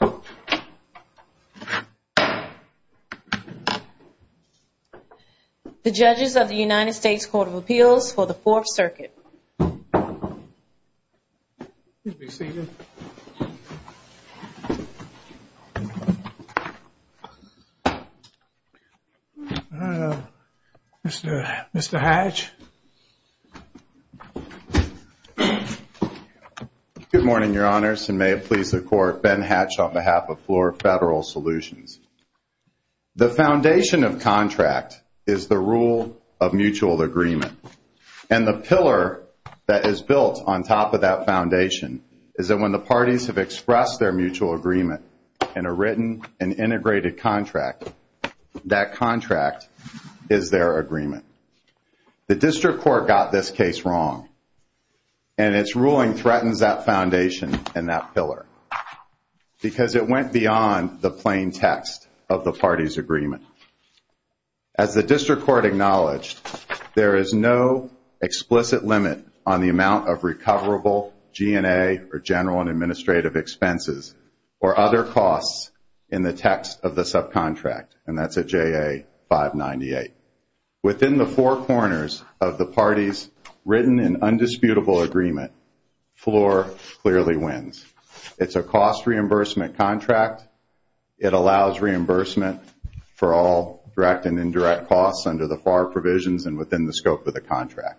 The Judges of the United States Court of Appeals for the Fourth Circuit. Mr. Hatch. Good morning, Your Honors, and may it please the Court, Ben Hatch on behalf of Floor Federal Solutions. The foundation of contract is the rule of mutual agreement, and the pillar that is built on top of that foundation is that when the parties have expressed their mutual agreement in a written and integrated contract, that contract is their agreement. The District Court got this case wrong, and its ruling threatens that foundation and that pillar because it went beyond the plain text of the parties' agreement. As the District Court acknowledged, there is no explicit limit on the amount of recoverable G&A or general and administrative expenses or other costs in the text of the subcontract, and that's a JA-598. Within the four corners of the parties' written and undisputable agreement, Floor clearly wins. It's a cost reimbursement contract. It allows reimbursement for all direct and indirect costs under the FAR provisions and within the scope of the contract.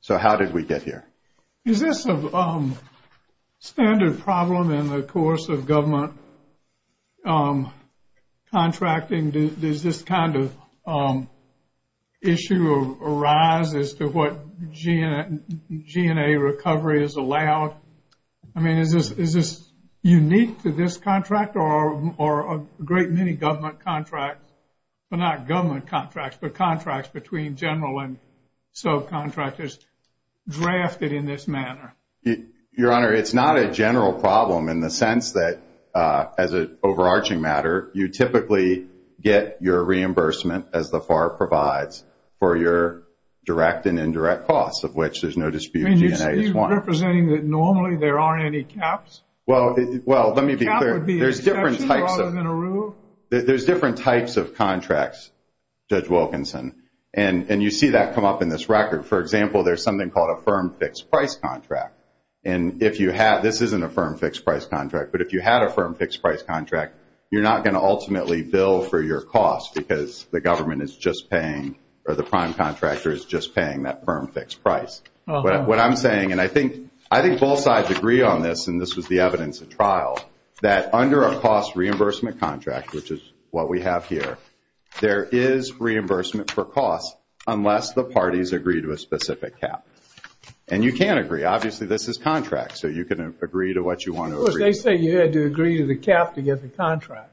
So how did we get here? Is this a standard problem in the course of government contracting? Does this kind of issue arise as to what G&A recovery is allowed? I mean, is this unique to this contract or a great many government contracts, but not government contracts, but contracts between general and subcontractors drafted in this manner? Your Honor, it's not a general problem in the sense that, as an overarching matter, you typically get your reimbursement, as the FAR provides, for your direct and indirect costs, of which there's no dispute G&A is one. Are you representing that normally there aren't any caps? Well, let me be clear. A cap would be an exception rather than a rule? There's different types of contracts, Judge Wilkinson, and you see that come up in this record. For example, there's something called a firm fixed price contract. This isn't a firm fixed price contract, but if you had a firm fixed price contract, you're not going to ultimately bill for your cost because the government is just paying or the prime contractor is just paying that firm fixed price. What I'm saying, and I think both sides agree on this, and this was the evidence at trial, that under a cost reimbursement contract, which is what we have here, there is reimbursement for costs unless the parties agree to a specific cap. And you can agree. Obviously, this is contract, so you can agree to what you want to agree to. Of course, they say you had to agree to the cap to get the contract.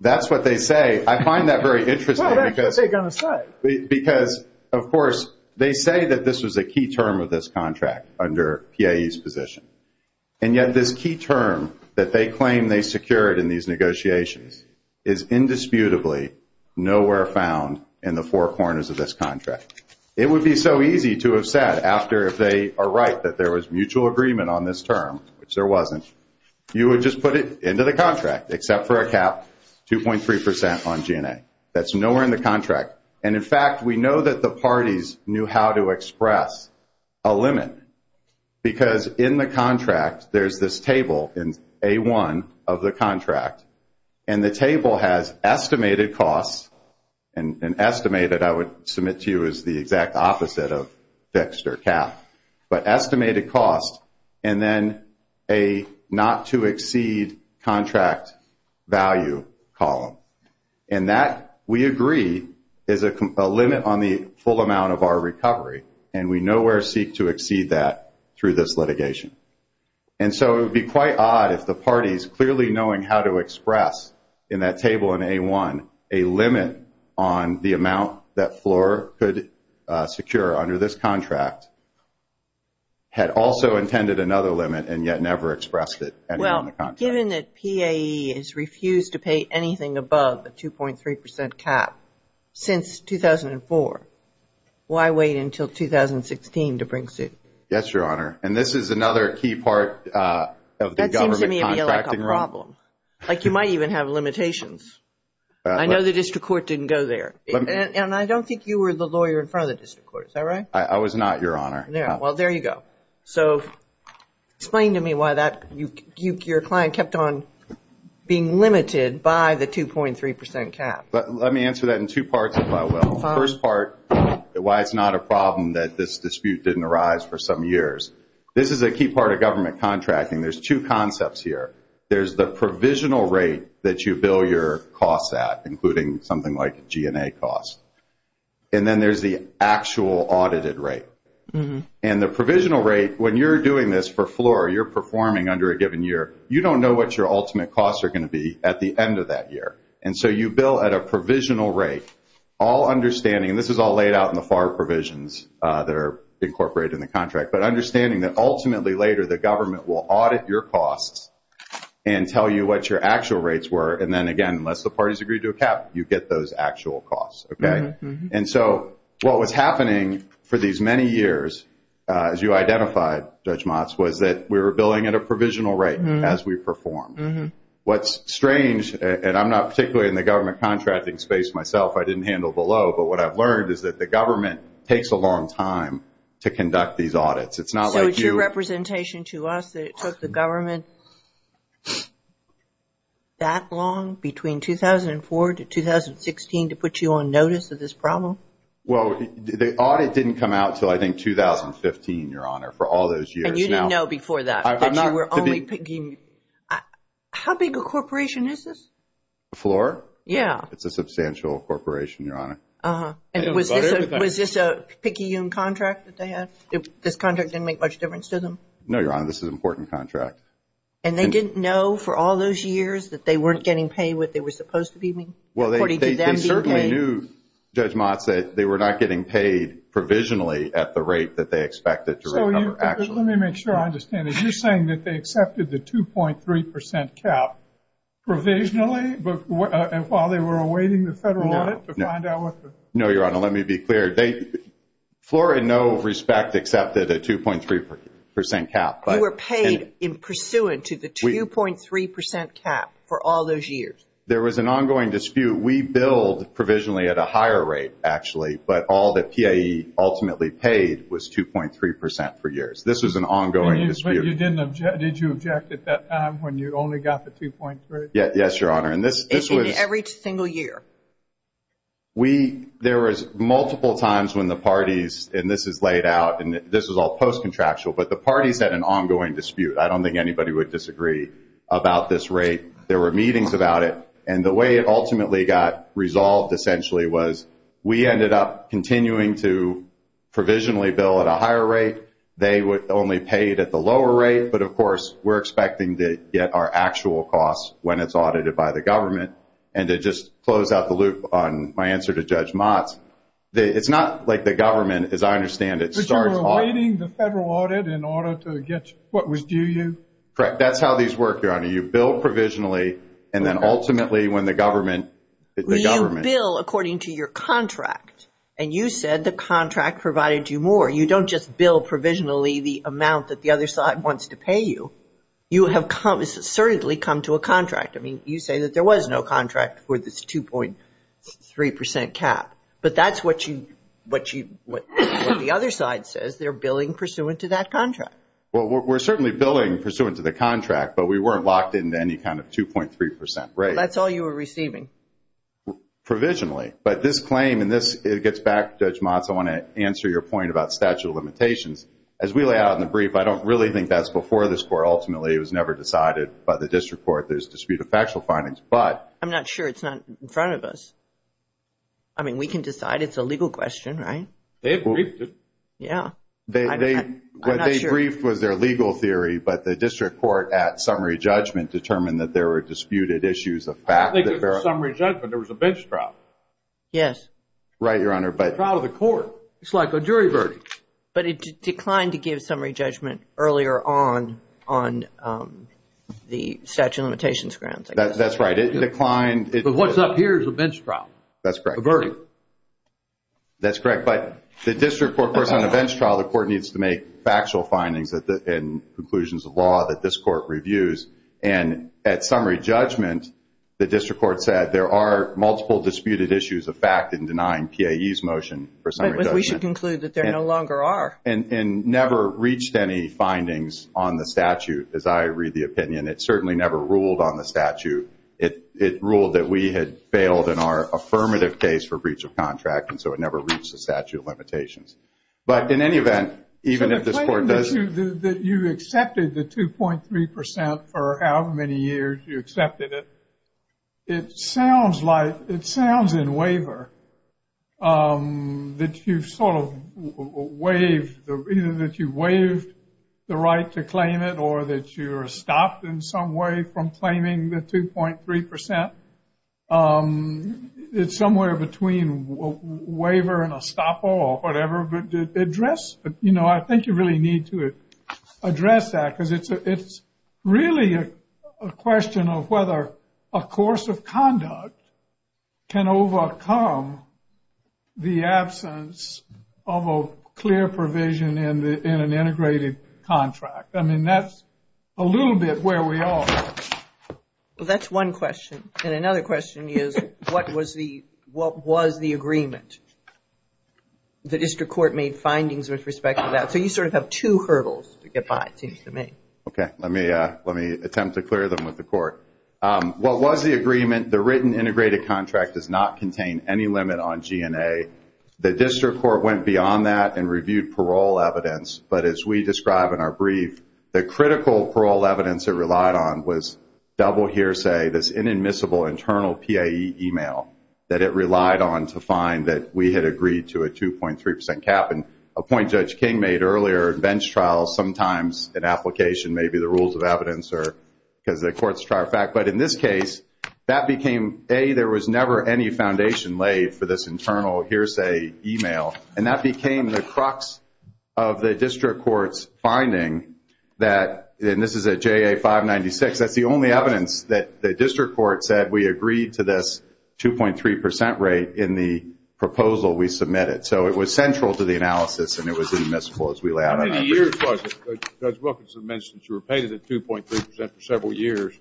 That's what they say. I find that very interesting because, of course, they say that this was a key term of this contract under PAE's position, and yet this key term that they claim they secured in these negotiations is indisputably nowhere found in the four corners of this contract. It would be so easy to have said after if they are right that there was mutual agreement on this term, which there wasn't, you would just put it into the contract except for a cap 2.3% on G&A. That's nowhere in the contract. And, in fact, we know that the parties knew how to express a limit because in the contract there's this table in A1 of the contract, and the table has estimated costs, and estimated I would submit to you is the exact opposite of fixed or cap, but estimated cost and then a not to exceed contract value column. And that, we agree, is a limit on the full amount of our recovery, and we nowhere seek to exceed that through this litigation. And so it would be quite odd if the parties clearly knowing how to express in that table in A1 a limit on the amount that FLOR could secure under this contract had also intended another limit and yet never expressed it. Well, given that PAE has refused to pay anything above the 2.3% cap since 2004, why wait until 2016 to bring suit? Yes, Your Honor. And this is another key part of the government contracting rule. That seems to me to be a problem. Like you might even have limitations. I know the district court didn't go there. And I don't think you were the lawyer in front of the district court. Is that right? I was not, Your Honor. Well, there you go. So explain to me why your client kept on being limited by the 2.3% cap. Let me answer that in two parts, if I will. The first part, why it's not a problem that this dispute didn't arise for some years. This is a key part of government contracting. There's two concepts here. There's the provisional rate that you bill your costs at, including something like G&A costs. And then there's the actual audited rate. And the provisional rate, when you're doing this for FLOR, you're performing under a given year, you don't know what your ultimate costs are going to be at the end of that year. And so you bill at a provisional rate, all understanding, and this is all laid out in the FAR provisions that are incorporated in the contract, but understanding that ultimately later the government will audit your costs and tell you what your actual rates were. And then, again, unless the parties agree to a cap, you get those actual costs. And so what was happening for these many years, as you identified, Judge Motz, was that we were billing at a provisional rate as we performed. What's strange, and I'm not particularly in the government contracting space myself, I didn't handle below, but what I've learned is that the government takes a long time to conduct these audits. So it's your representation to us that it took the government that long, between 2004 to 2016, to put you on notice of this problem? Well, the audit didn't come out until I think 2015, Your Honor, for all those years. And you didn't know before that, that you were only picking – how big a corporation is this? A floor? Yeah. It's a substantial corporation, Your Honor. And was this a picky young contract that they had? This contract didn't make much difference to them? No, Your Honor, this is an important contract. And they didn't know for all those years that they weren't getting paid what they were supposed to be paid? Well, they certainly knew, Judge Motz, that they were not getting paid provisionally at the rate that they expected to recover actually. So let me make sure I understand this. You're saying that they accepted the 2.3% cap provisionally while they were awaiting the federal audit? No, Your Honor, let me be clear. Floor, in no respect, accepted a 2.3% cap. You were paid in pursuant to the 2.3% cap for all those years? There was an ongoing dispute. We billed provisionally at a higher rate, actually, but all that PAE ultimately paid was 2.3% for years. This was an ongoing dispute. But you didn't object? Did you object at that time when you only got the 2.3%? Yes, Your Honor. In every single year? There was multiple times when the parties, and this is laid out, and this is all post-contractual, but the parties had an ongoing dispute. I don't think anybody would disagree about this rate. There were meetings about it, and the way it ultimately got resolved, essentially, was we ended up continuing to provisionally bill at a higher rate. They only paid at the lower rate, but, of course, we're expecting to get our actual costs when it's audited by the government. And to just close out the loop on my answer to Judge Mott's, it's not like the government, as I understand it, But you were awaiting the federal audit in order to get what was due you? Correct. That's how these work, Your Honor. You bill provisionally, and then ultimately when the government You bill according to your contract, and you said the contract provided you more. You don't just bill provisionally the amount that the other side wants to pay you. You have assertedly come to a contract. I mean, you say that there was no contract for this 2.3% cap, but that's what the other side says they're billing pursuant to that contract. Well, we're certainly billing pursuant to the contract, but we weren't locked into any kind of 2.3% rate. That's all you were receiving? Provisionally. But this claim, and this gets back to Judge Mott's, I want to answer your point about statute of limitations. As we lay out in the brief, I don't really think that's before this court ultimately. It was never decided by the district court. There's disputed factual findings, but I'm not sure. It's not in front of us. I mean, we can decide. It's a legal question, right? They have briefed it. Yeah. What they briefed was their legal theory, but the district court at summary judgment determined that there were disputed issues of fact. I think it was summary judgment. There was a bench trial. Yes. Right, Your Honor. It's a trial of the court. It's like a jury verdict. But it declined to give summary judgment earlier on, on the statute of limitations grounds. That's right. It declined. But what's up here is a bench trial. That's correct. A verdict. That's correct. But the district court, of course, on a bench trial, the court needs to make factual findings and conclusions of law that this court reviews. And at summary judgment, the district court said there are multiple disputed issues of fact in denying PAE's motion for summary judgment. But we should conclude that there no longer are. And never reached any findings on the statute, as I read the opinion. It certainly never ruled on the statute. It ruled that we had failed in our affirmative case for breach of contract, and so it never reached the statute of limitations. But in any event, even if this court does. So the claim that you accepted the 2.3% for however many years you accepted it, it sounds like, it sounds in waiver, that you sort of waived, either that you waived the right to claim it or that you're stopped in some way from claiming the 2.3%. It's somewhere between a waiver and a stop or whatever. But address, you know, I think you really need to address that because it's really a question of whether a course of conduct can overcome the absence of a clear provision in an integrated contract. I mean, that's a little bit where we are. Well, that's one question. And another question is, what was the agreement? The district court made findings with respect to that. So you sort of have two hurdles to get by, it seems to me. Okay, let me attempt to clear them with the court. What was the agreement? The written integrated contract does not contain any limit on G&A. The district court went beyond that and reviewed parole evidence. But as we describe in our brief, the critical parole evidence it relied on was double hearsay, this inadmissible internal PAE email that it relied on to find that we had agreed to a 2.3% cap. And a point Judge King made earlier in bench trials, sometimes an application may be the rules of evidence or because the courts try a fact. But in this case, that became, A, there was never any foundation laid for this internal hearsay email. And that became the crux of the district court's finding that, and this is at JA 596, that's the only evidence that the district court said we agreed to this 2.3% rate in the proposal we submitted. So it was central to the analysis and it was admissible as we lay out. How many years was it? Judge Wilkinson mentioned you were paid a 2.3% for several years.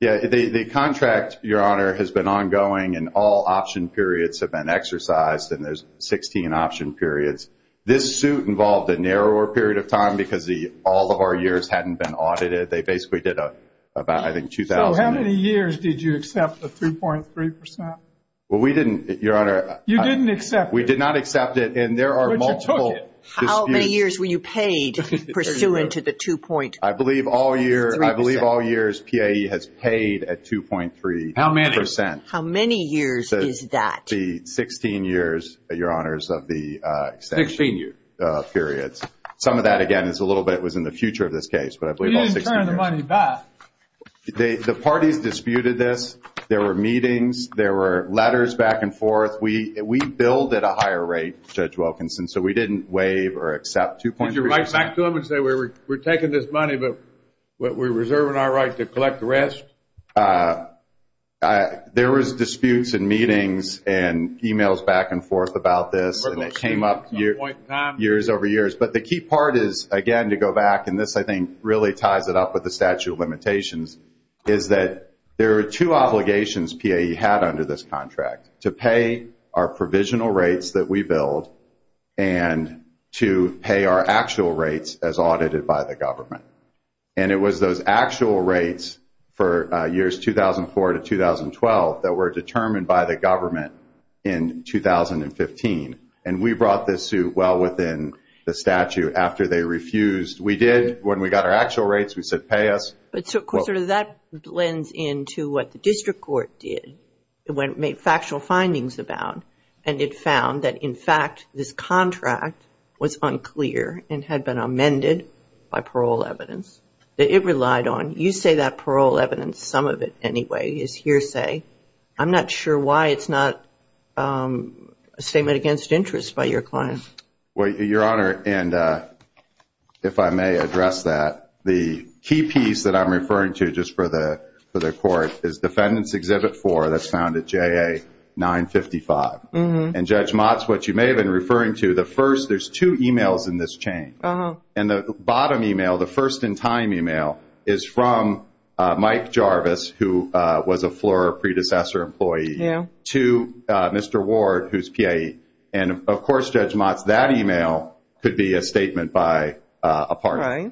Yeah, the contract, Your Honor, has been ongoing and all option periods have been exercised and there's 16 option periods. This suit involved a narrower period of time because all of our years hadn't been audited. They basically did about, I think, 2,000. So how many years did you accept the 3.3%? Well, we didn't, Your Honor. You didn't accept it. We did not accept it. But you took it. How many years were you paid pursuant to the 2.3%? I believe all years PAE has paid a 2.3%. How many? How many years is that? The 16 years, Your Honors, of the extension periods. Some of that, again, is a little bit was in the future of this case, but I believe all 16 years. You didn't turn the money back. The parties disputed this. There were meetings. There were letters back and forth. We billed at a higher rate, Judge Wilkinson, so we didn't waive or accept 2.3%. Did you write back to them and say, We're taking this money but we're reserving our right to collect the rest? There was disputes in meetings and emails back and forth about this, and it came up years over years. But the key part is, again, to go back, and this I think really ties it up with the statute of limitations, is that there are two obligations PAE had under this contract, to pay our provisional rates that we billed and to pay our actual rates as audited by the government. And it was those actual rates for years 2004 to 2012 that were determined by the government in 2015, and we brought this suit well within the statute after they refused. We did. When we got our actual rates, we said, Pay us. But sort of that blends into what the district court did when it made factual findings about, and it found that in fact this contract was unclear and had been amended by parole evidence that it relied on. You say that parole evidence, some of it anyway, is hearsay. I'm not sure why it's not a statement against interest by your client. Well, Your Honor, and if I may address that, the key piece that I'm referring to just for the court is that's found at JA 955. And Judge Motz, what you may have been referring to, the first, there's two e-mails in this chain. And the bottom e-mail, the first in time e-mail, is from Mike Jarvis, who was a Flora predecessor employee, to Mr. Ward, who's PAE. And of course, Judge Motz, that e-mail could be a statement by a partner.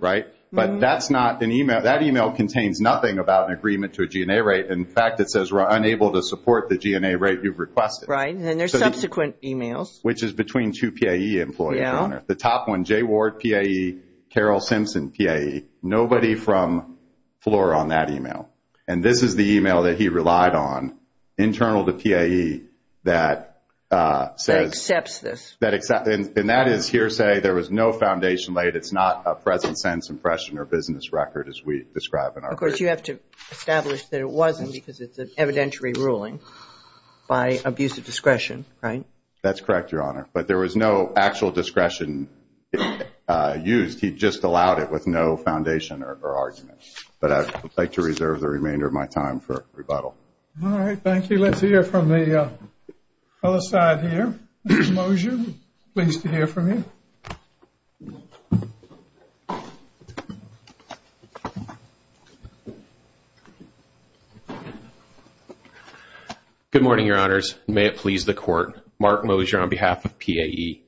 But that's not an e-mail. That e-mail contains nothing about an agreement to a G&A rate. In fact, it says we're unable to support the G&A rate you've requested. Right. And there's subsequent e-mails. Which is between two PAE employees, Your Honor. Yeah. The top one, Jay Ward, PAE, Carol Simpson, PAE. Nobody from Flora on that e-mail. And this is the e-mail that he relied on internal to PAE that says – That accepts this. And that is hearsay. There was no foundation laid. It's not a present sense impression or business record as we describe it. Of course, you have to establish that it wasn't because it's an evidentiary ruling by abuse of discretion. Right? That's correct, Your Honor. But there was no actual discretion used. He just allowed it with no foundation or argument. But I would like to reserve the remainder of my time for rebuttal. All right. Thank you. Let's hear from the other side here. Mr. Mosher, pleased to hear from you. Thank you. Good morning, Your Honors. May it please the Court. Mark Mosher on behalf of PAE.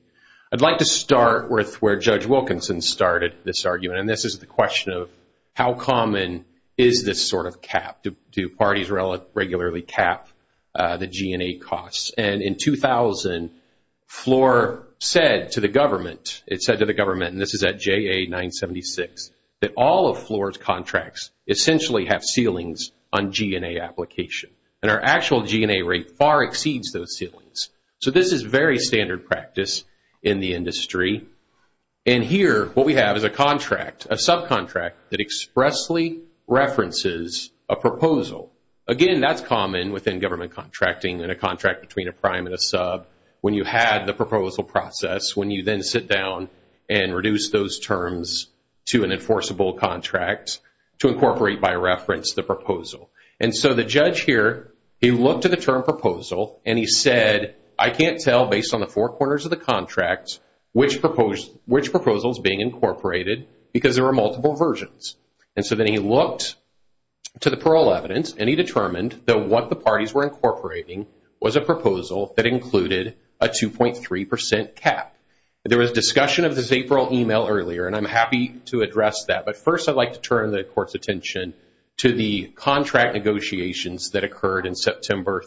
I'd like to start with where Judge Wilkinson started this argument, and this is the question of how common is this sort of cap? Do parties regularly cap the G&A costs? And in 2000, FLOR said to the government, it said to the government, and this is at JA-976, that all of FLOR's contracts essentially have ceilings on G&A application. And our actual G&A rate far exceeds those ceilings. So this is very standard practice in the industry. And here what we have is a contract, a subcontract that expressly references a proposal. Again, that's common within government contracting in a contract between a prime and a sub when you had the proposal process, when you then sit down and reduce those terms to an enforceable contract to incorporate by reference the proposal. And so the judge here, he looked at the term proposal and he said, I can't tell based on the four corners of the contract which proposal is being incorporated because there are multiple versions. And so then he looked to the parole evidence and he determined that what the parties were incorporating was a proposal that included a 2.3% cap. There was discussion of this April email earlier, and I'm happy to address that. But first I'd like to turn the court's attention to the contract negotiations that occurred in September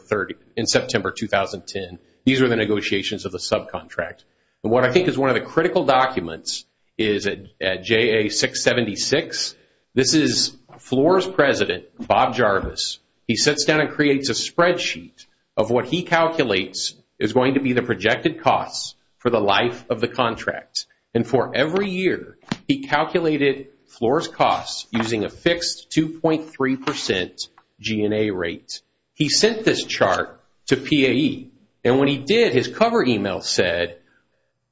2010. These were the negotiations of the subcontract. And what I think is one of the critical documents is at JA676, this is FLORS President Bob Jarvis. He sits down and creates a spreadsheet of what he calculates is going to be the projected costs for the life of the contract. And for every year he calculated FLORS costs using a fixed 2.3% G&A rate. He sent this chart to PAE. And when he did, his cover email said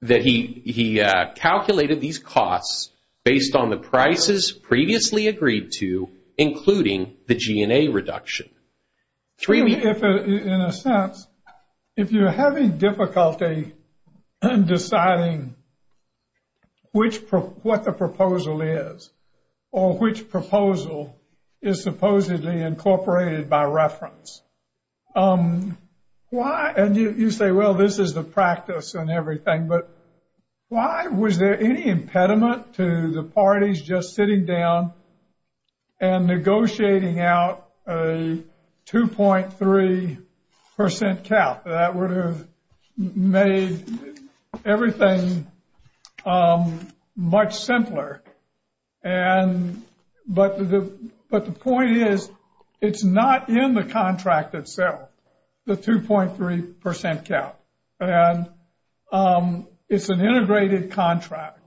that he calculated these costs based on the prices previously agreed to including the G&A reduction. In a sense, if you're having difficulty in deciding what the proposal is or which proposal is supposedly incorporated by reference, and you say, well, this is the practice and everything, but why was there any impediment to the parties just sitting down and negotiating out a 2.3% cap? That would have made everything much simpler. But the point is it's not in the contract itself, the 2.3% cap. And it's an integrated contract.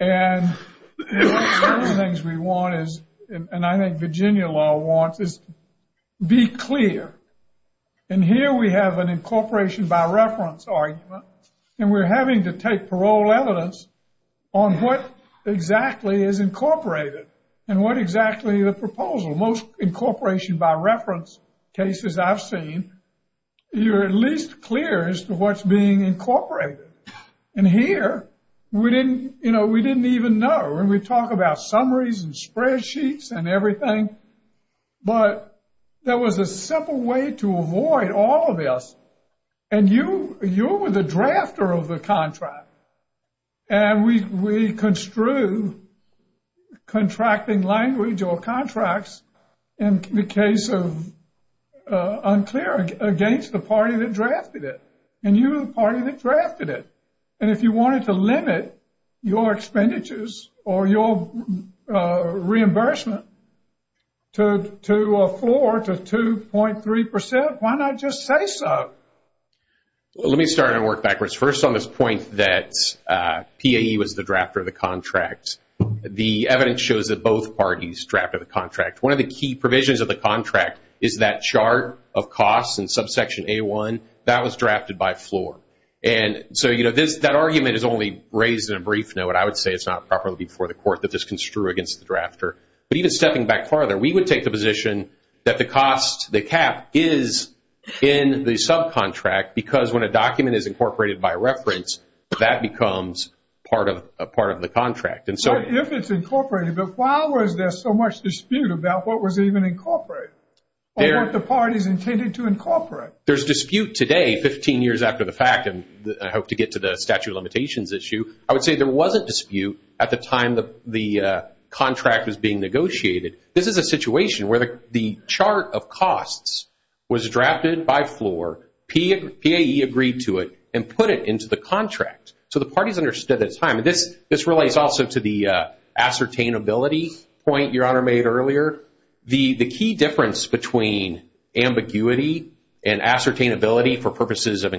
And one of the things we want is, and I think Virginia law wants, is be clear. And here we have an incorporation by reference argument, and we're having to take parole evidence on what exactly is incorporated and what exactly the proposal. Most incorporation by reference cases I've seen, you're at least clear as to what's being incorporated. And here we didn't even know. And we talk about summaries and spreadsheets and everything, but there was a simple way to avoid all of this. And you were the drafter of the contract. And we construe contracting language or contracts in the case of unclear against the party that drafted it. And you were the party that drafted it. And if you wanted to limit your expenditures or your reimbursement to a floor to 2.3%, why not just say so? Let me start and work backwards. First on this point that PAE was the drafter of the contract, the evidence shows that both parties drafted the contract. One of the key provisions of the contract is that chart of costs in subsection A1, that was drafted by floor. And so, you know, that argument is only raised in a brief note. I would say it's not properly before the court that this construe against the drafter. But even stepping back further, we would take the position that the cost, the cap is in the subcontract because when a document is incorporated by reference, that becomes part of the contract. If it's incorporated, but why was there so much dispute about what was even incorporated or what the parties intended to incorporate? There's dispute today, 15 years after the fact, and I hope to get to the statute of limitations issue. I would say there wasn't dispute at the time the contract was being negotiated. This is a situation where the chart of costs was drafted by floor, PAE agreed to it, and put it into the contract. So the parties understood at the time, and this relates also to the ascertainability point Your Honor made earlier. The key difference between ambiguity and ascertainability for purposes of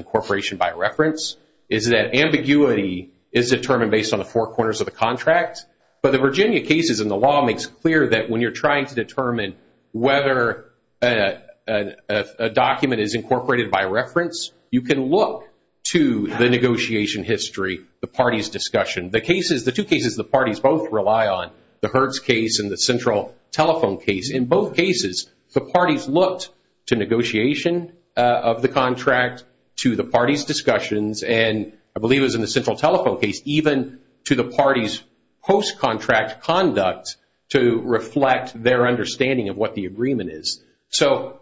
is determined based on the four corners of the contract. But the Virginia cases and the law makes clear that when you're trying to determine whether a document is incorporated by reference, you can look to the negotiation history, the parties' discussion. The two cases the parties both rely on, the Hertz case and the central telephone case, in both cases, the parties looked to negotiation of the contract, to the parties' discussions, and I believe it was in the central telephone case, even to the parties' post-contract conduct to reflect their understanding of what the agreement is. So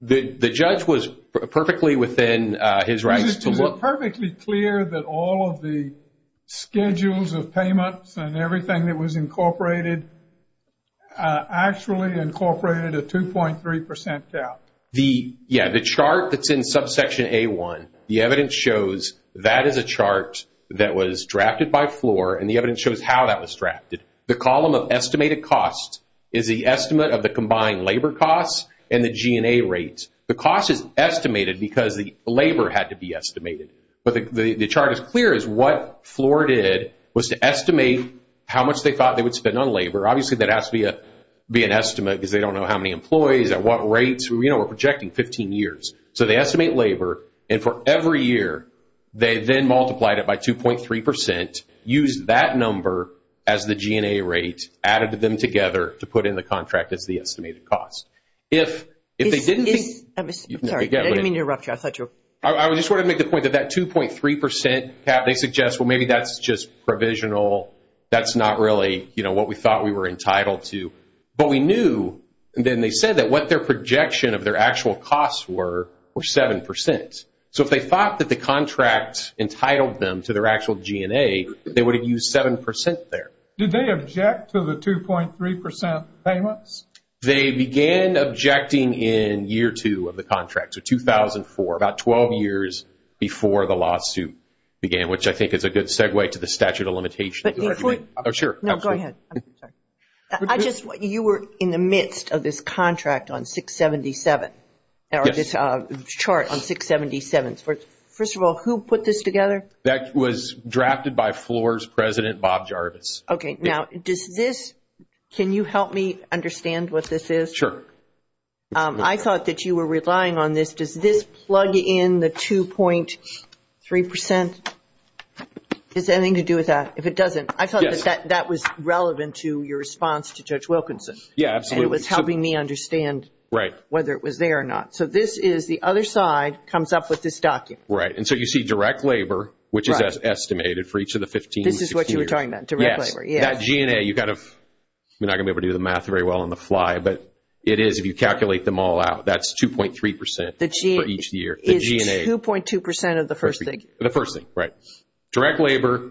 the judge was perfectly within his rights to look. Is it perfectly clear that all of the schedules of payments and everything that was incorporated actually incorporated a 2.3% cap? Yeah, the chart that's in subsection A1, the evidence shows that is a chart that was drafted by FLOR, and the evidence shows how that was drafted. The column of estimated costs is the estimate of the combined labor costs and the G&A rates. The cost is estimated because the labor had to be estimated. But the chart is clear as what FLOR did was to estimate how much they thought they would spend on labor. Obviously, that has to be an estimate because they don't know how many employees, at what rates, you know, we're projecting 15 years. So they estimate labor, and for every year, they then multiplied it by 2.3%, used that number as the G&A rate, added them together to put in the contract as the estimated cost. If they didn't think— Sorry, I didn't mean to interrupt you. I just wanted to make the point that that 2.3% cap, they suggest, well, maybe that's just provisional. That's not really, you know, what we thought we were entitled to. But we knew, and then they said that what their projection of their actual costs were, were 7%. So if they thought that the contract entitled them to their actual G&A, they would have used 7% there. Did they object to the 2.3% payments? They began objecting in year two of the contract, so 2004, about 12 years before the lawsuit began, which I think is a good segue to the statute of limitations. Go ahead. You were in the midst of this contract on 677, or this chart on 677. First of all, who put this together? That was drafted by FLORS President Bob Jarvis. Okay, now does this—can you help me understand what this is? Sure. I thought that you were relying on this. Does this plug in the 2.3%? Does it have anything to do with that? If it doesn't, I thought that that was relevant to your response to Judge Wilkinson. Yeah, absolutely. And it was helping me understand whether it was there or not. So this is—the other side comes up with this document. Right, and so you see direct labor, which is estimated for each of the 15, 16 years. This is what you were talking about, direct labor. Yes, that G&A, you've got to—I'm not going to be able to do the math very well on the fly, but it is if you calculate them all out. That's 2.3% for each year. The G&A is 2.2% of the first thing. The first thing, right. Direct labor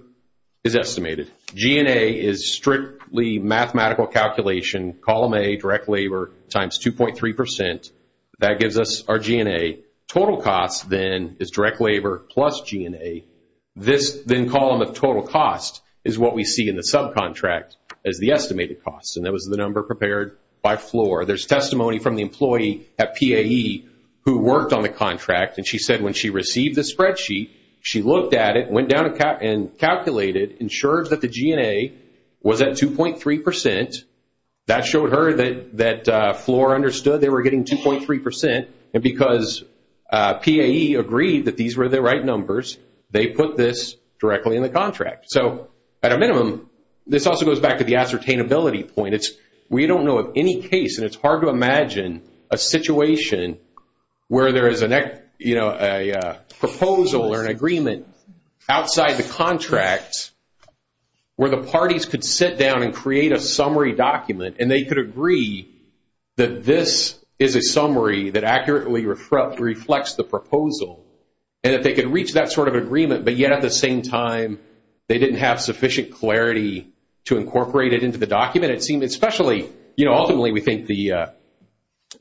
is estimated. G&A is strictly mathematical calculation, column A, direct labor, times 2.3%. That gives us our G&A. Total cost, then, is direct labor plus G&A. This, then, column of total cost is what we see in the subcontract as the estimated cost, and that was the number prepared by floor. There's testimony from the employee at PAE who worked on the contract, and she said when she received the spreadsheet, she looked at it, went down and calculated, ensured that the G&A was at 2.3%. That showed her that floor understood they were getting 2.3%, and because PAE agreed that these were the right numbers, they put this directly in the contract. So, at a minimum, this also goes back to the ascertainability point. We don't know of any case, and it's hard to imagine, a situation where there is a proposal or an agreement outside the contract where the parties could sit down and create a summary document and they could agree that this is a summary that accurately reflects the proposal, and that they could reach that sort of agreement, but yet at the same time, they didn't have sufficient clarity to incorporate it into the document. It seemed especially, you know, ultimately, we think the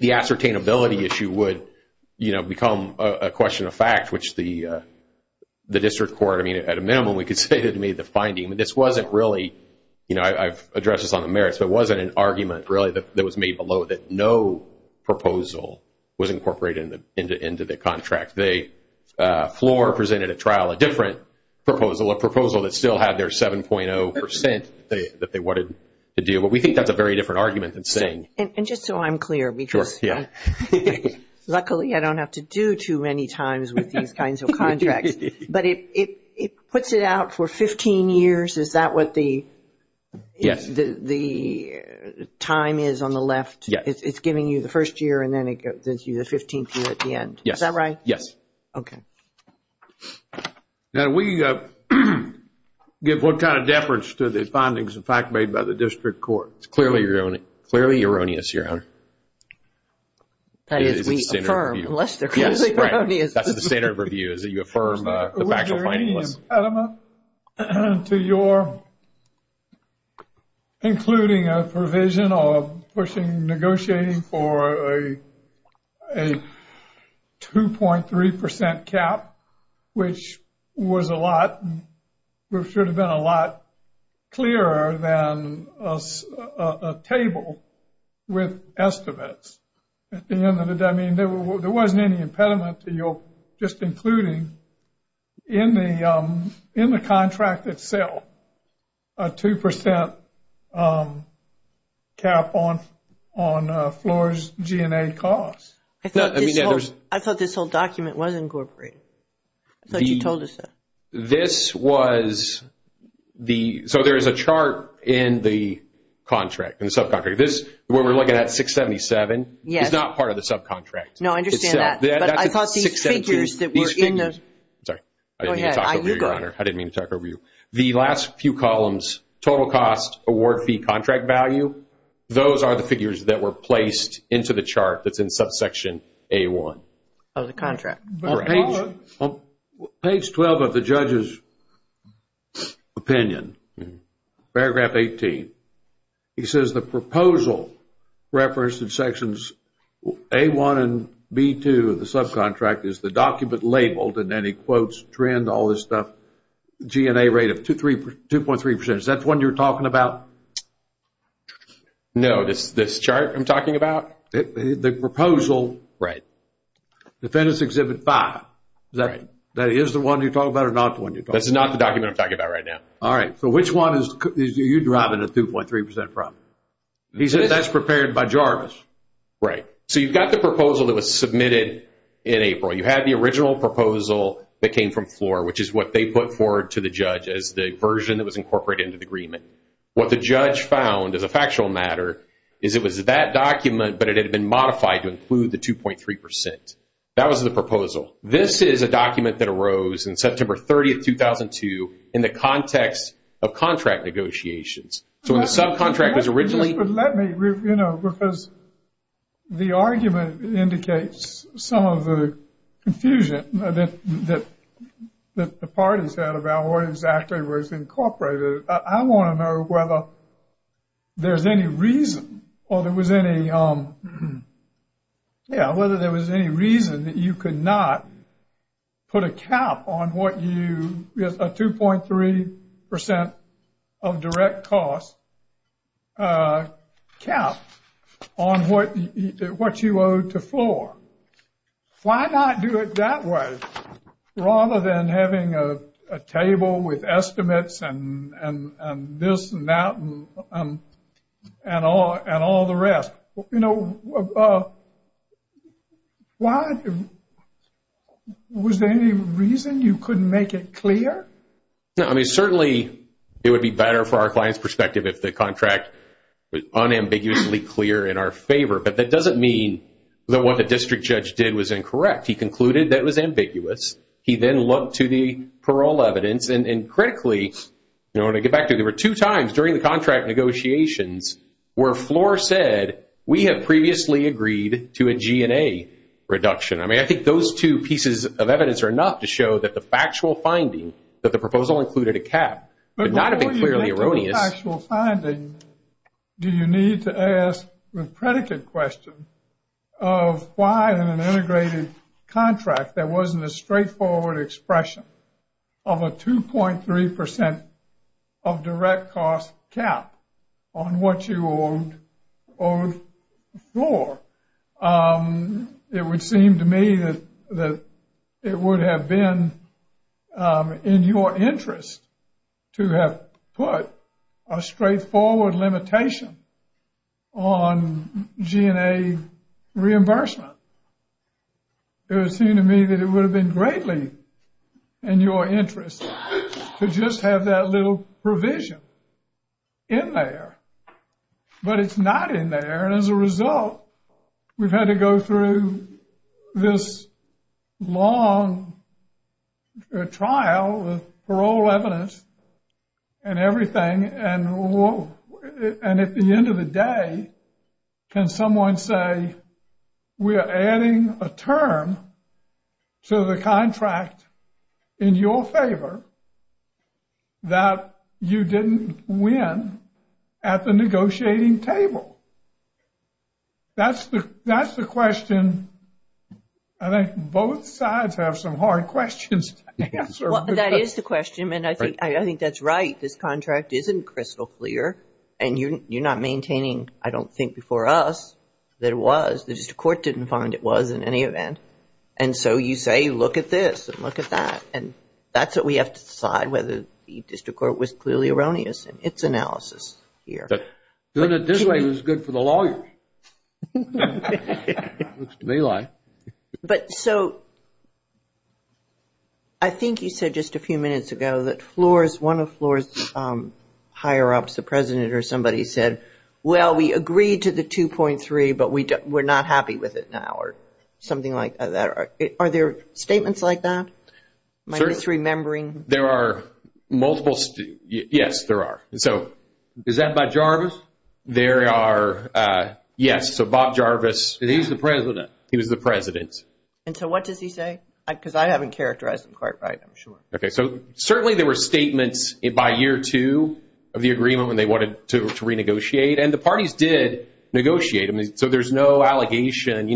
ascertainability issue would, you know, become a question of fact, which the district court, I mean, at a minimum, we could say that it made the finding. This wasn't really, you know, I've addressed this on the merits, but it wasn't an argument really that was made below that no proposal was incorporated into the contract. Floor presented at trial a different proposal, a proposal that still had their 7.0% that they wanted to do, but we think that's a very different argument than saying. And just so I'm clear, luckily I don't have to do too many times with these kinds of contracts, but it puts it out for 15 years, is that what the time is on the left? Yes. It's giving you the first year and then it gives you the 15th year at the end, is that right? Yes. Okay. Now, we give what kind of deference to the findings of fact made by the district court. It's clearly erroneous, Your Honor. That is, we affirm, unless they're clearly erroneous. That's the standard review, is that you affirm the factual findings. There wasn't any impediment to your, including a provision of pushing, negotiating for a 2.3% cap, which was a lot, should have been a lot clearer than a table with estimates. I mean, there wasn't any impediment to your, just including in the contract itself, a 2% cap on floors, G&A costs. I thought this whole document was incorporated. I thought you told us that. This was the, so there is a chart in the contract, in the subcontract. I'm sorry, when we're looking at 677, it's not part of the subcontract. No, I understand that. I thought these figures that were in the, go ahead. I didn't mean to talk over you, Your Honor. I didn't mean to talk over you. The last few columns, total cost, award fee, contract value, those are the figures that were placed into the chart that's in subsection A1. Of the contract. Page 12 of the judge's opinion, paragraph 18. He says the proposal referenced in sections A1 and B2 of the subcontract is the document labeled, and then he quotes trend, all this stuff, G&A rate of 2.3%. Is that the one you're talking about? No, this chart I'm talking about? The proposal. Right. Defendant's Exhibit 5. Right. That is the one you're talking about or not the one you're talking about? That's not the document I'm talking about right now. All right. So which one is you deriving a 2.3% from? He says that's prepared by Jarvis. Right. So you've got the proposal that was submitted in April. You had the original proposal that came from Floor, which is what they put forward to the judge as the version that was incorporated into the agreement. What the judge found, as a factual matter, is it was that document, but it had been modified to include the 2.3%. That was the proposal. This is a document that arose in September 30, 2002, in the context of contract negotiations. So when the subcontract was originally. Let me, you know, because the argument indicates some of the confusion that the parties had about what exactly was incorporated. I want to know whether there's any reason or there was any. Yeah, whether there was any reason that you could not put a cap on what you, a 2.3% of direct cost cap on what you owed to Floor. Why not do it that way rather than having a table with estimates and this and that and all the rest? You know, was there any reason you couldn't make it clear? I mean, certainly it would be better for our client's perspective if the contract was unambiguously clear in our favor. But that doesn't mean that what the district judge did was incorrect. He concluded that it was ambiguous. He then looked to the parole evidence. And critically, you know, when I get back to it, there were two times during the contract negotiations where Floor said, we have previously agreed to a G&A reduction. I mean, I think those two pieces of evidence are enough to show that the factual finding, that the proposal included a cap, would not have been clearly erroneous. What actual finding do you need to ask the predicate question of why in an integrated contract there wasn't a straightforward expression of a 2.3% of direct cost cap on what you owed Floor? It would seem to me that it would have been in your interest to have put a straightforward limitation on G&A reimbursement. It would seem to me that it would have been greatly in your interest to just have that little provision in there. But it's not in there. And as a result, we've had to go through this long trial with parole evidence and everything. And at the end of the day, can someone say, we're adding a term to the contract in your favor that you didn't win at the negotiating table? That's the question. I think both sides have some hard questions to answer. Well, that is the question. And I think that's right. This contract isn't crystal clear. And you're not maintaining, I don't think, before us that it was. The district court didn't find it was in any event. And so you say, look at this and look at that. And that's what we have to decide, whether the district court was clearly erroneous in its analysis here. Doing it this way was good for the lawyers. Looks to me like. But so I think you said just a few minutes ago that one of Floor's higher-ups, the president, or somebody said, well, we agreed to the 2.3, but we're not happy with it now, or something like that. Are there statements like that? My misremembering. There are multiple. Yes, there are. So is that by Jarvis? There are. Yes. So Bob Jarvis. He's the president. He was the president. And so what does he say? Because I haven't characterized him quite right, I'm sure. Okay. So certainly there were statements by year two of the agreement when they wanted to renegotiate. And the parties did negotiate. So there's no allegation.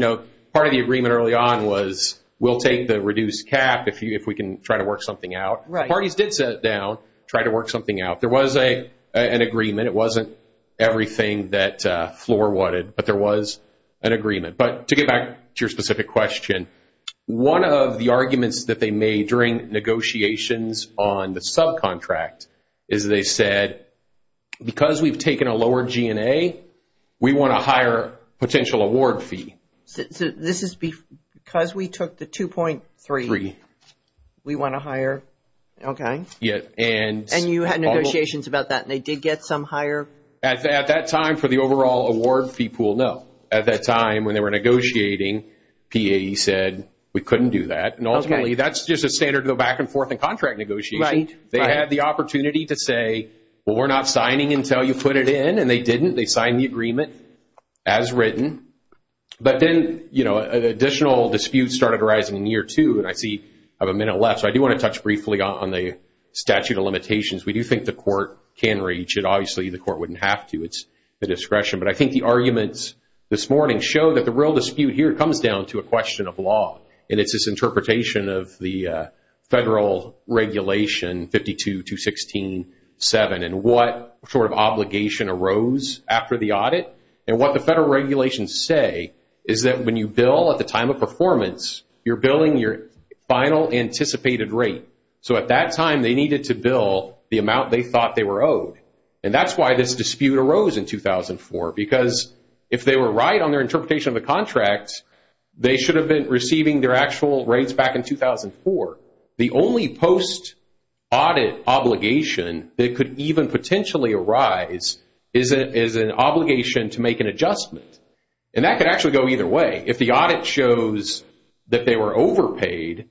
Part of the agreement early on was we'll take the reduced cap if we can try to work something out. Right. Parties did sit down, try to work something out. There was an agreement. It wasn't everything that Floor wanted. But there was an agreement. But to get back to your specific question, one of the arguments that they made during negotiations on the subcontract is they said, because we've taken a lower G&A, we want a higher potential award fee. So this is because we took the 2.3, we want a higher? Okay. And you had negotiations about that, and they did get some higher? At that time for the overall award fee pool, no. At that time when they were negotiating, PAE said we couldn't do that. And ultimately that's just a standard to go back and forth in contract negotiations. Right. They had the opportunity to say, well, we're not signing until you put it in, and they didn't. They signed the agreement as written. But then additional disputes started arising in year two, and I see I have a minute left. So I do want to touch briefly on the statute of limitations. We do think the court can reach it. Obviously the court wouldn't have to. It's the discretion. But I think the arguments this morning show that the real dispute here comes down to a question of law, and it's this interpretation of the federal regulation, 52-216-7, and what sort of obligation arose after the audit. And what the federal regulations say is that when you bill at the time of performance, you're billing your final anticipated rate. So at that time they needed to bill the amount they thought they were owed. And that's why this dispute arose in 2004, because if they were right on their interpretation of the contract, they should have been receiving their actual rates back in 2004. The only post-audit obligation that could even potentially arise is an obligation to make an adjustment. And that could actually go either way. If the audit shows that they were overpaid,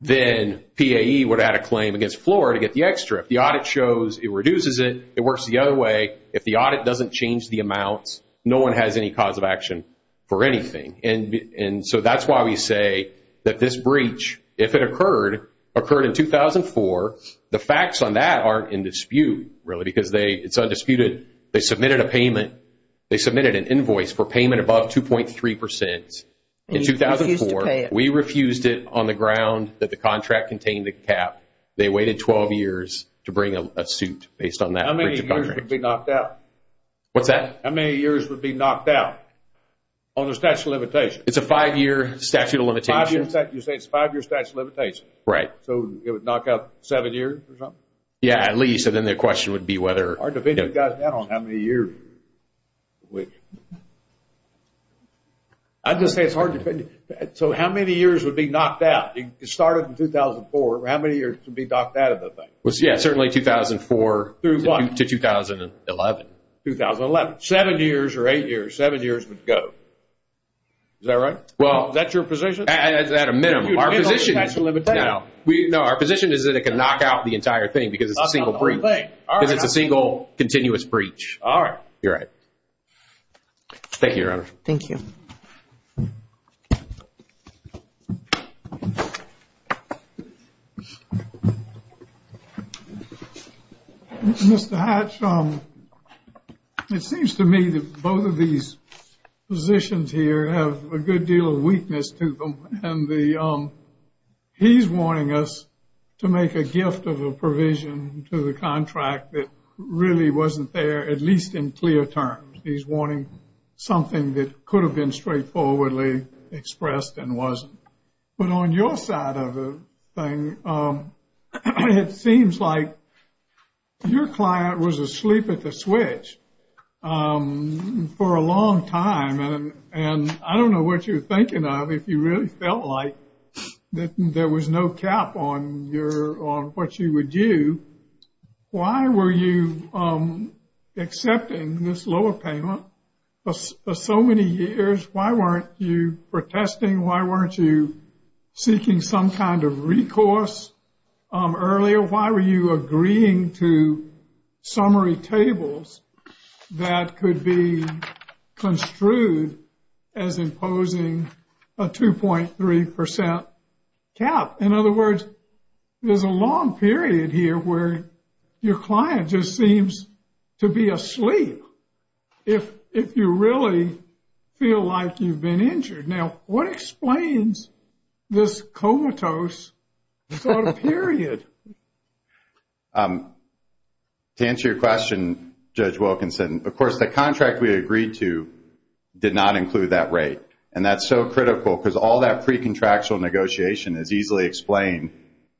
then PAE would add a claim against floor to get the extra. If the audit shows it reduces it, it works the other way. If the audit doesn't change the amounts, no one has any cause of action for anything. And so that's why we say that this breach, if it occurred, occurred in 2004. The facts on that aren't in dispute, really, because it's undisputed. They submitted a payment. They submitted an invoice for payment above 2.3%. In 2004, we refused it on the ground that the contract contained the cap. They waited 12 years to bring a suit based on that breach of contract. How many years would be knocked out? What's that? How many years would be knocked out on the statute of limitations? It's a five-year statute of limitations. You say it's a five-year statute of limitations. Right. So it would knock out seven years or something? Yeah, at least. So then the question would be whether. It's hard to figure that out on how many years. I'm just saying it's hard to figure. So how many years would be knocked out? It started in 2004. How many years would be knocked out of the thing? Yeah, certainly 2004 to 2011. 2011. Seven years or eight years, seven years would go. Is that right? Well, is that your position? At a minimum. Our position is that it can knock out the entire thing because it's a single breach. Because it's a single continuous breach. All right. You're right. Thank you, Your Honor. Thank you. Mr. Hatch, it seems to me that both of these positions here have a good deal of weakness to them. He's warning us to make a gift of a provision to the contract that really wasn't there, at least in clear terms. He's warning something that could have been straightforwardly expressed and wasn't. But on your side of the thing, it seems like your client was asleep at the switch for a long time. And I don't know what you're thinking of if you really felt like there was no cap on what you would do. Why were you accepting this lower payment for so many years? Why weren't you protesting? Why weren't you seeking some kind of recourse earlier? Why were you agreeing to summary tables that could be construed as imposing a 2.3% cap? In other words, there's a long period here where your client just seems to be asleep if you really feel like you've been injured. Now, what explains this comatose sort of period? To answer your question, Judge Wilkinson, of course, the contract we agreed to did not include that rate. And that's so critical because all that pre-contractual negotiation is easily explained.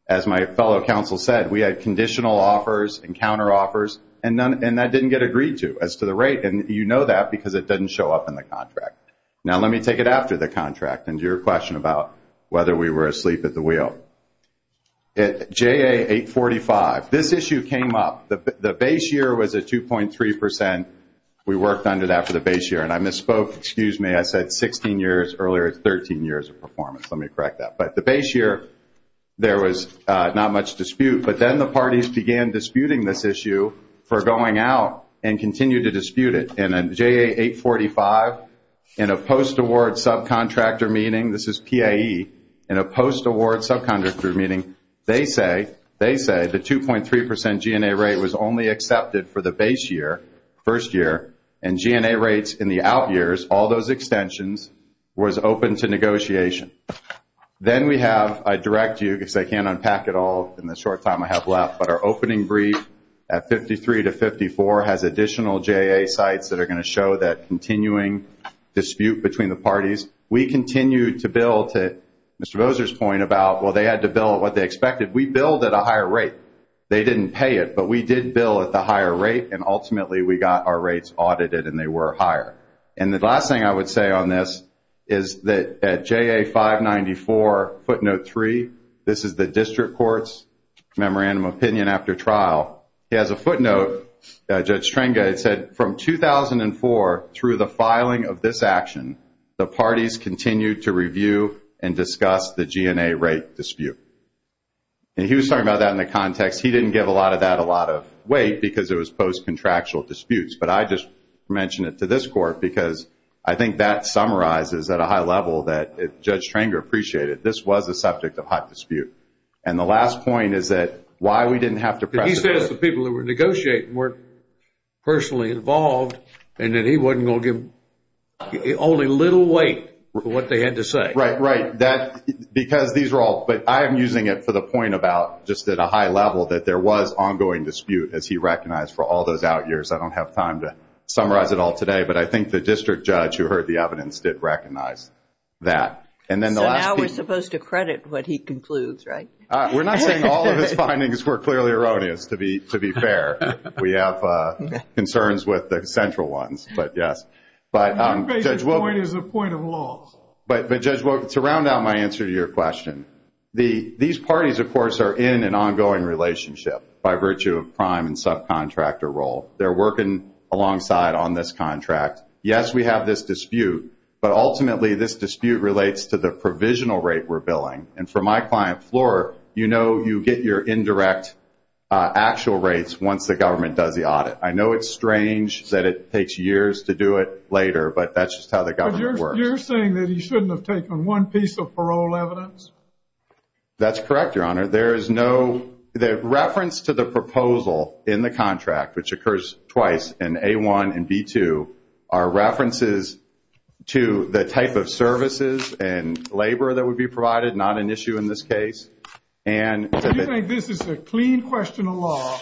As my fellow counsel said, we had conditional offers and counteroffers, and that didn't get agreed to as to the rate. And you know that because it doesn't show up in the contract. Now, let me take it after the contract and to your question about whether we were asleep at the wheel. At JA845, this issue came up. The base year was a 2.3%. We worked under that for the base year. And I misspoke. Excuse me. I said 16 years earlier. It's 13 years of performance. Let me correct that. But the base year, there was not much dispute. But then the parties began disputing this issue for going out and continued to dispute it. And then JA845, in a post-award subcontractor meeting, this is PAE, in a post-award subcontractor meeting, they say the 2.3% G&A rate was only accepted for the base year, first year, and G&A rates in the out years, all those extensions, was open to negotiation. Then we have, I direct you, because I can't unpack it all in the short time I have left, but our opening brief at 53 to 54 has additional JA sites that are going to show that continuing dispute between the parties. We continued to bill to Mr. Bowser's point about, well, they had to bill at what they expected. We billed at a higher rate. They didn't pay it, but we did bill at the higher rate, and ultimately we got our rates audited, and they were higher. And the last thing I would say on this is that at JA594 footnote 3, this is the district court's memorandum of opinion. After trial, he has a footnote, Judge Trenga, it said, from 2004 through the filing of this action, the parties continued to review and discuss the G&A rate dispute. And he was talking about that in the context. He didn't give a lot of that a lot of weight because it was post-contractual disputes, but I just mention it to this court because I think that summarizes at a high level that Judge Trenga appreciated. This was a subject of hot dispute. And the last point is that why we didn't have to press it. He says the people who were negotiating weren't personally involved, and that he wasn't going to give only little weight for what they had to say. Right, right. Because these are all, but I am using it for the point about just at a high level that there was ongoing dispute, as he recognized for all those out years. I don't have time to summarize it all today, but I think the district judge who heard the evidence did recognize that. So now we're supposed to credit what he concludes, right? We're not saying all of his findings were clearly erroneous, to be fair. We have concerns with the central ones, but yes. My basic point is a point of loss. But, Judge, to round out my answer to your question, these parties, of course, are in an ongoing relationship by virtue of prime and subcontractor role. They're working alongside on this contract. Yes, we have this dispute, but ultimately this dispute relates to the provisional rate we're billing. And from my client floor, you know you get your indirect actual rates once the government does the audit. I know it's strange that it takes years to do it later, but that's just how the government works. But you're saying that he shouldn't have taken one piece of parole evidence? That's correct, Your Honor. The reference to the proposal in the contract, which occurs twice in A1 and B2, are references to the type of services and labor that would be provided, not an issue in this case. Do you think this is a clean question of law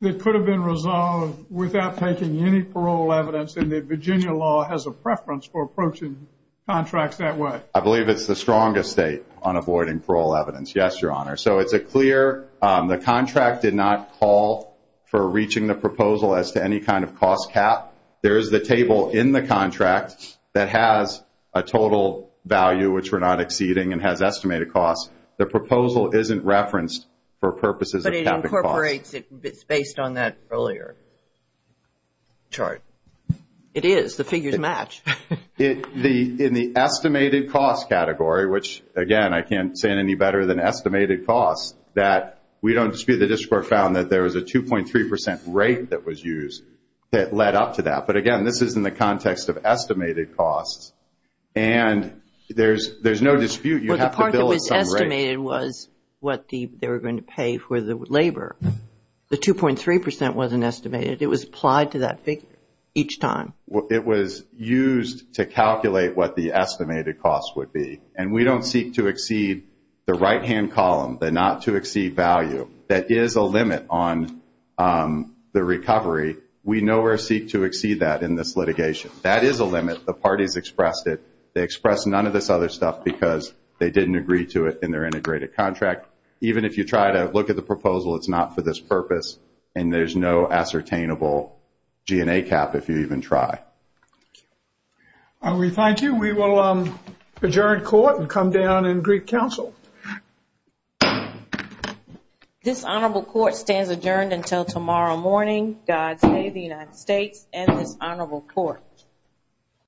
that could have been resolved without taking any parole evidence and that Virginia law has a preference for approaching contracts that way? I believe it's the strongest state on avoiding parole evidence. Yes, Your Honor. So it's a clear the contract did not call for reaching the proposal as to any kind of cost cap. There is the table in the contract that has a total value, which we're not exceeding, and has estimated costs. The proposal isn't referenced for purposes of capital costs. But it incorporates it based on that earlier chart. It is. The figures match. In the estimated cost category, which, again, I can't say it any better than estimated costs, that we don't dispute the district court found that there was a 2.3% rate that was used that led up to that. But, again, this is in the context of estimated costs, and there's no dispute. You have to bill at some rate. Well, the part that was estimated was what they were going to pay for the labor. The 2.3% wasn't estimated. It was applied to that figure each time. It was used to calculate what the estimated cost would be. And we don't seek to exceed the right-hand column, the not to exceed value. That is a limit on the recovery. We nowhere seek to exceed that in this litigation. That is a limit. The parties expressed it. They expressed none of this other stuff because they didn't agree to it in their integrated contract. Even if you try to look at the proposal, it's not for this purpose, and there's no ascertainable G&A cap if you even try. Thank you. We thank you. We will adjourn court and come down in Greek Council. This honorable court stands adjourned until tomorrow morning. God save the United States and this honorable court.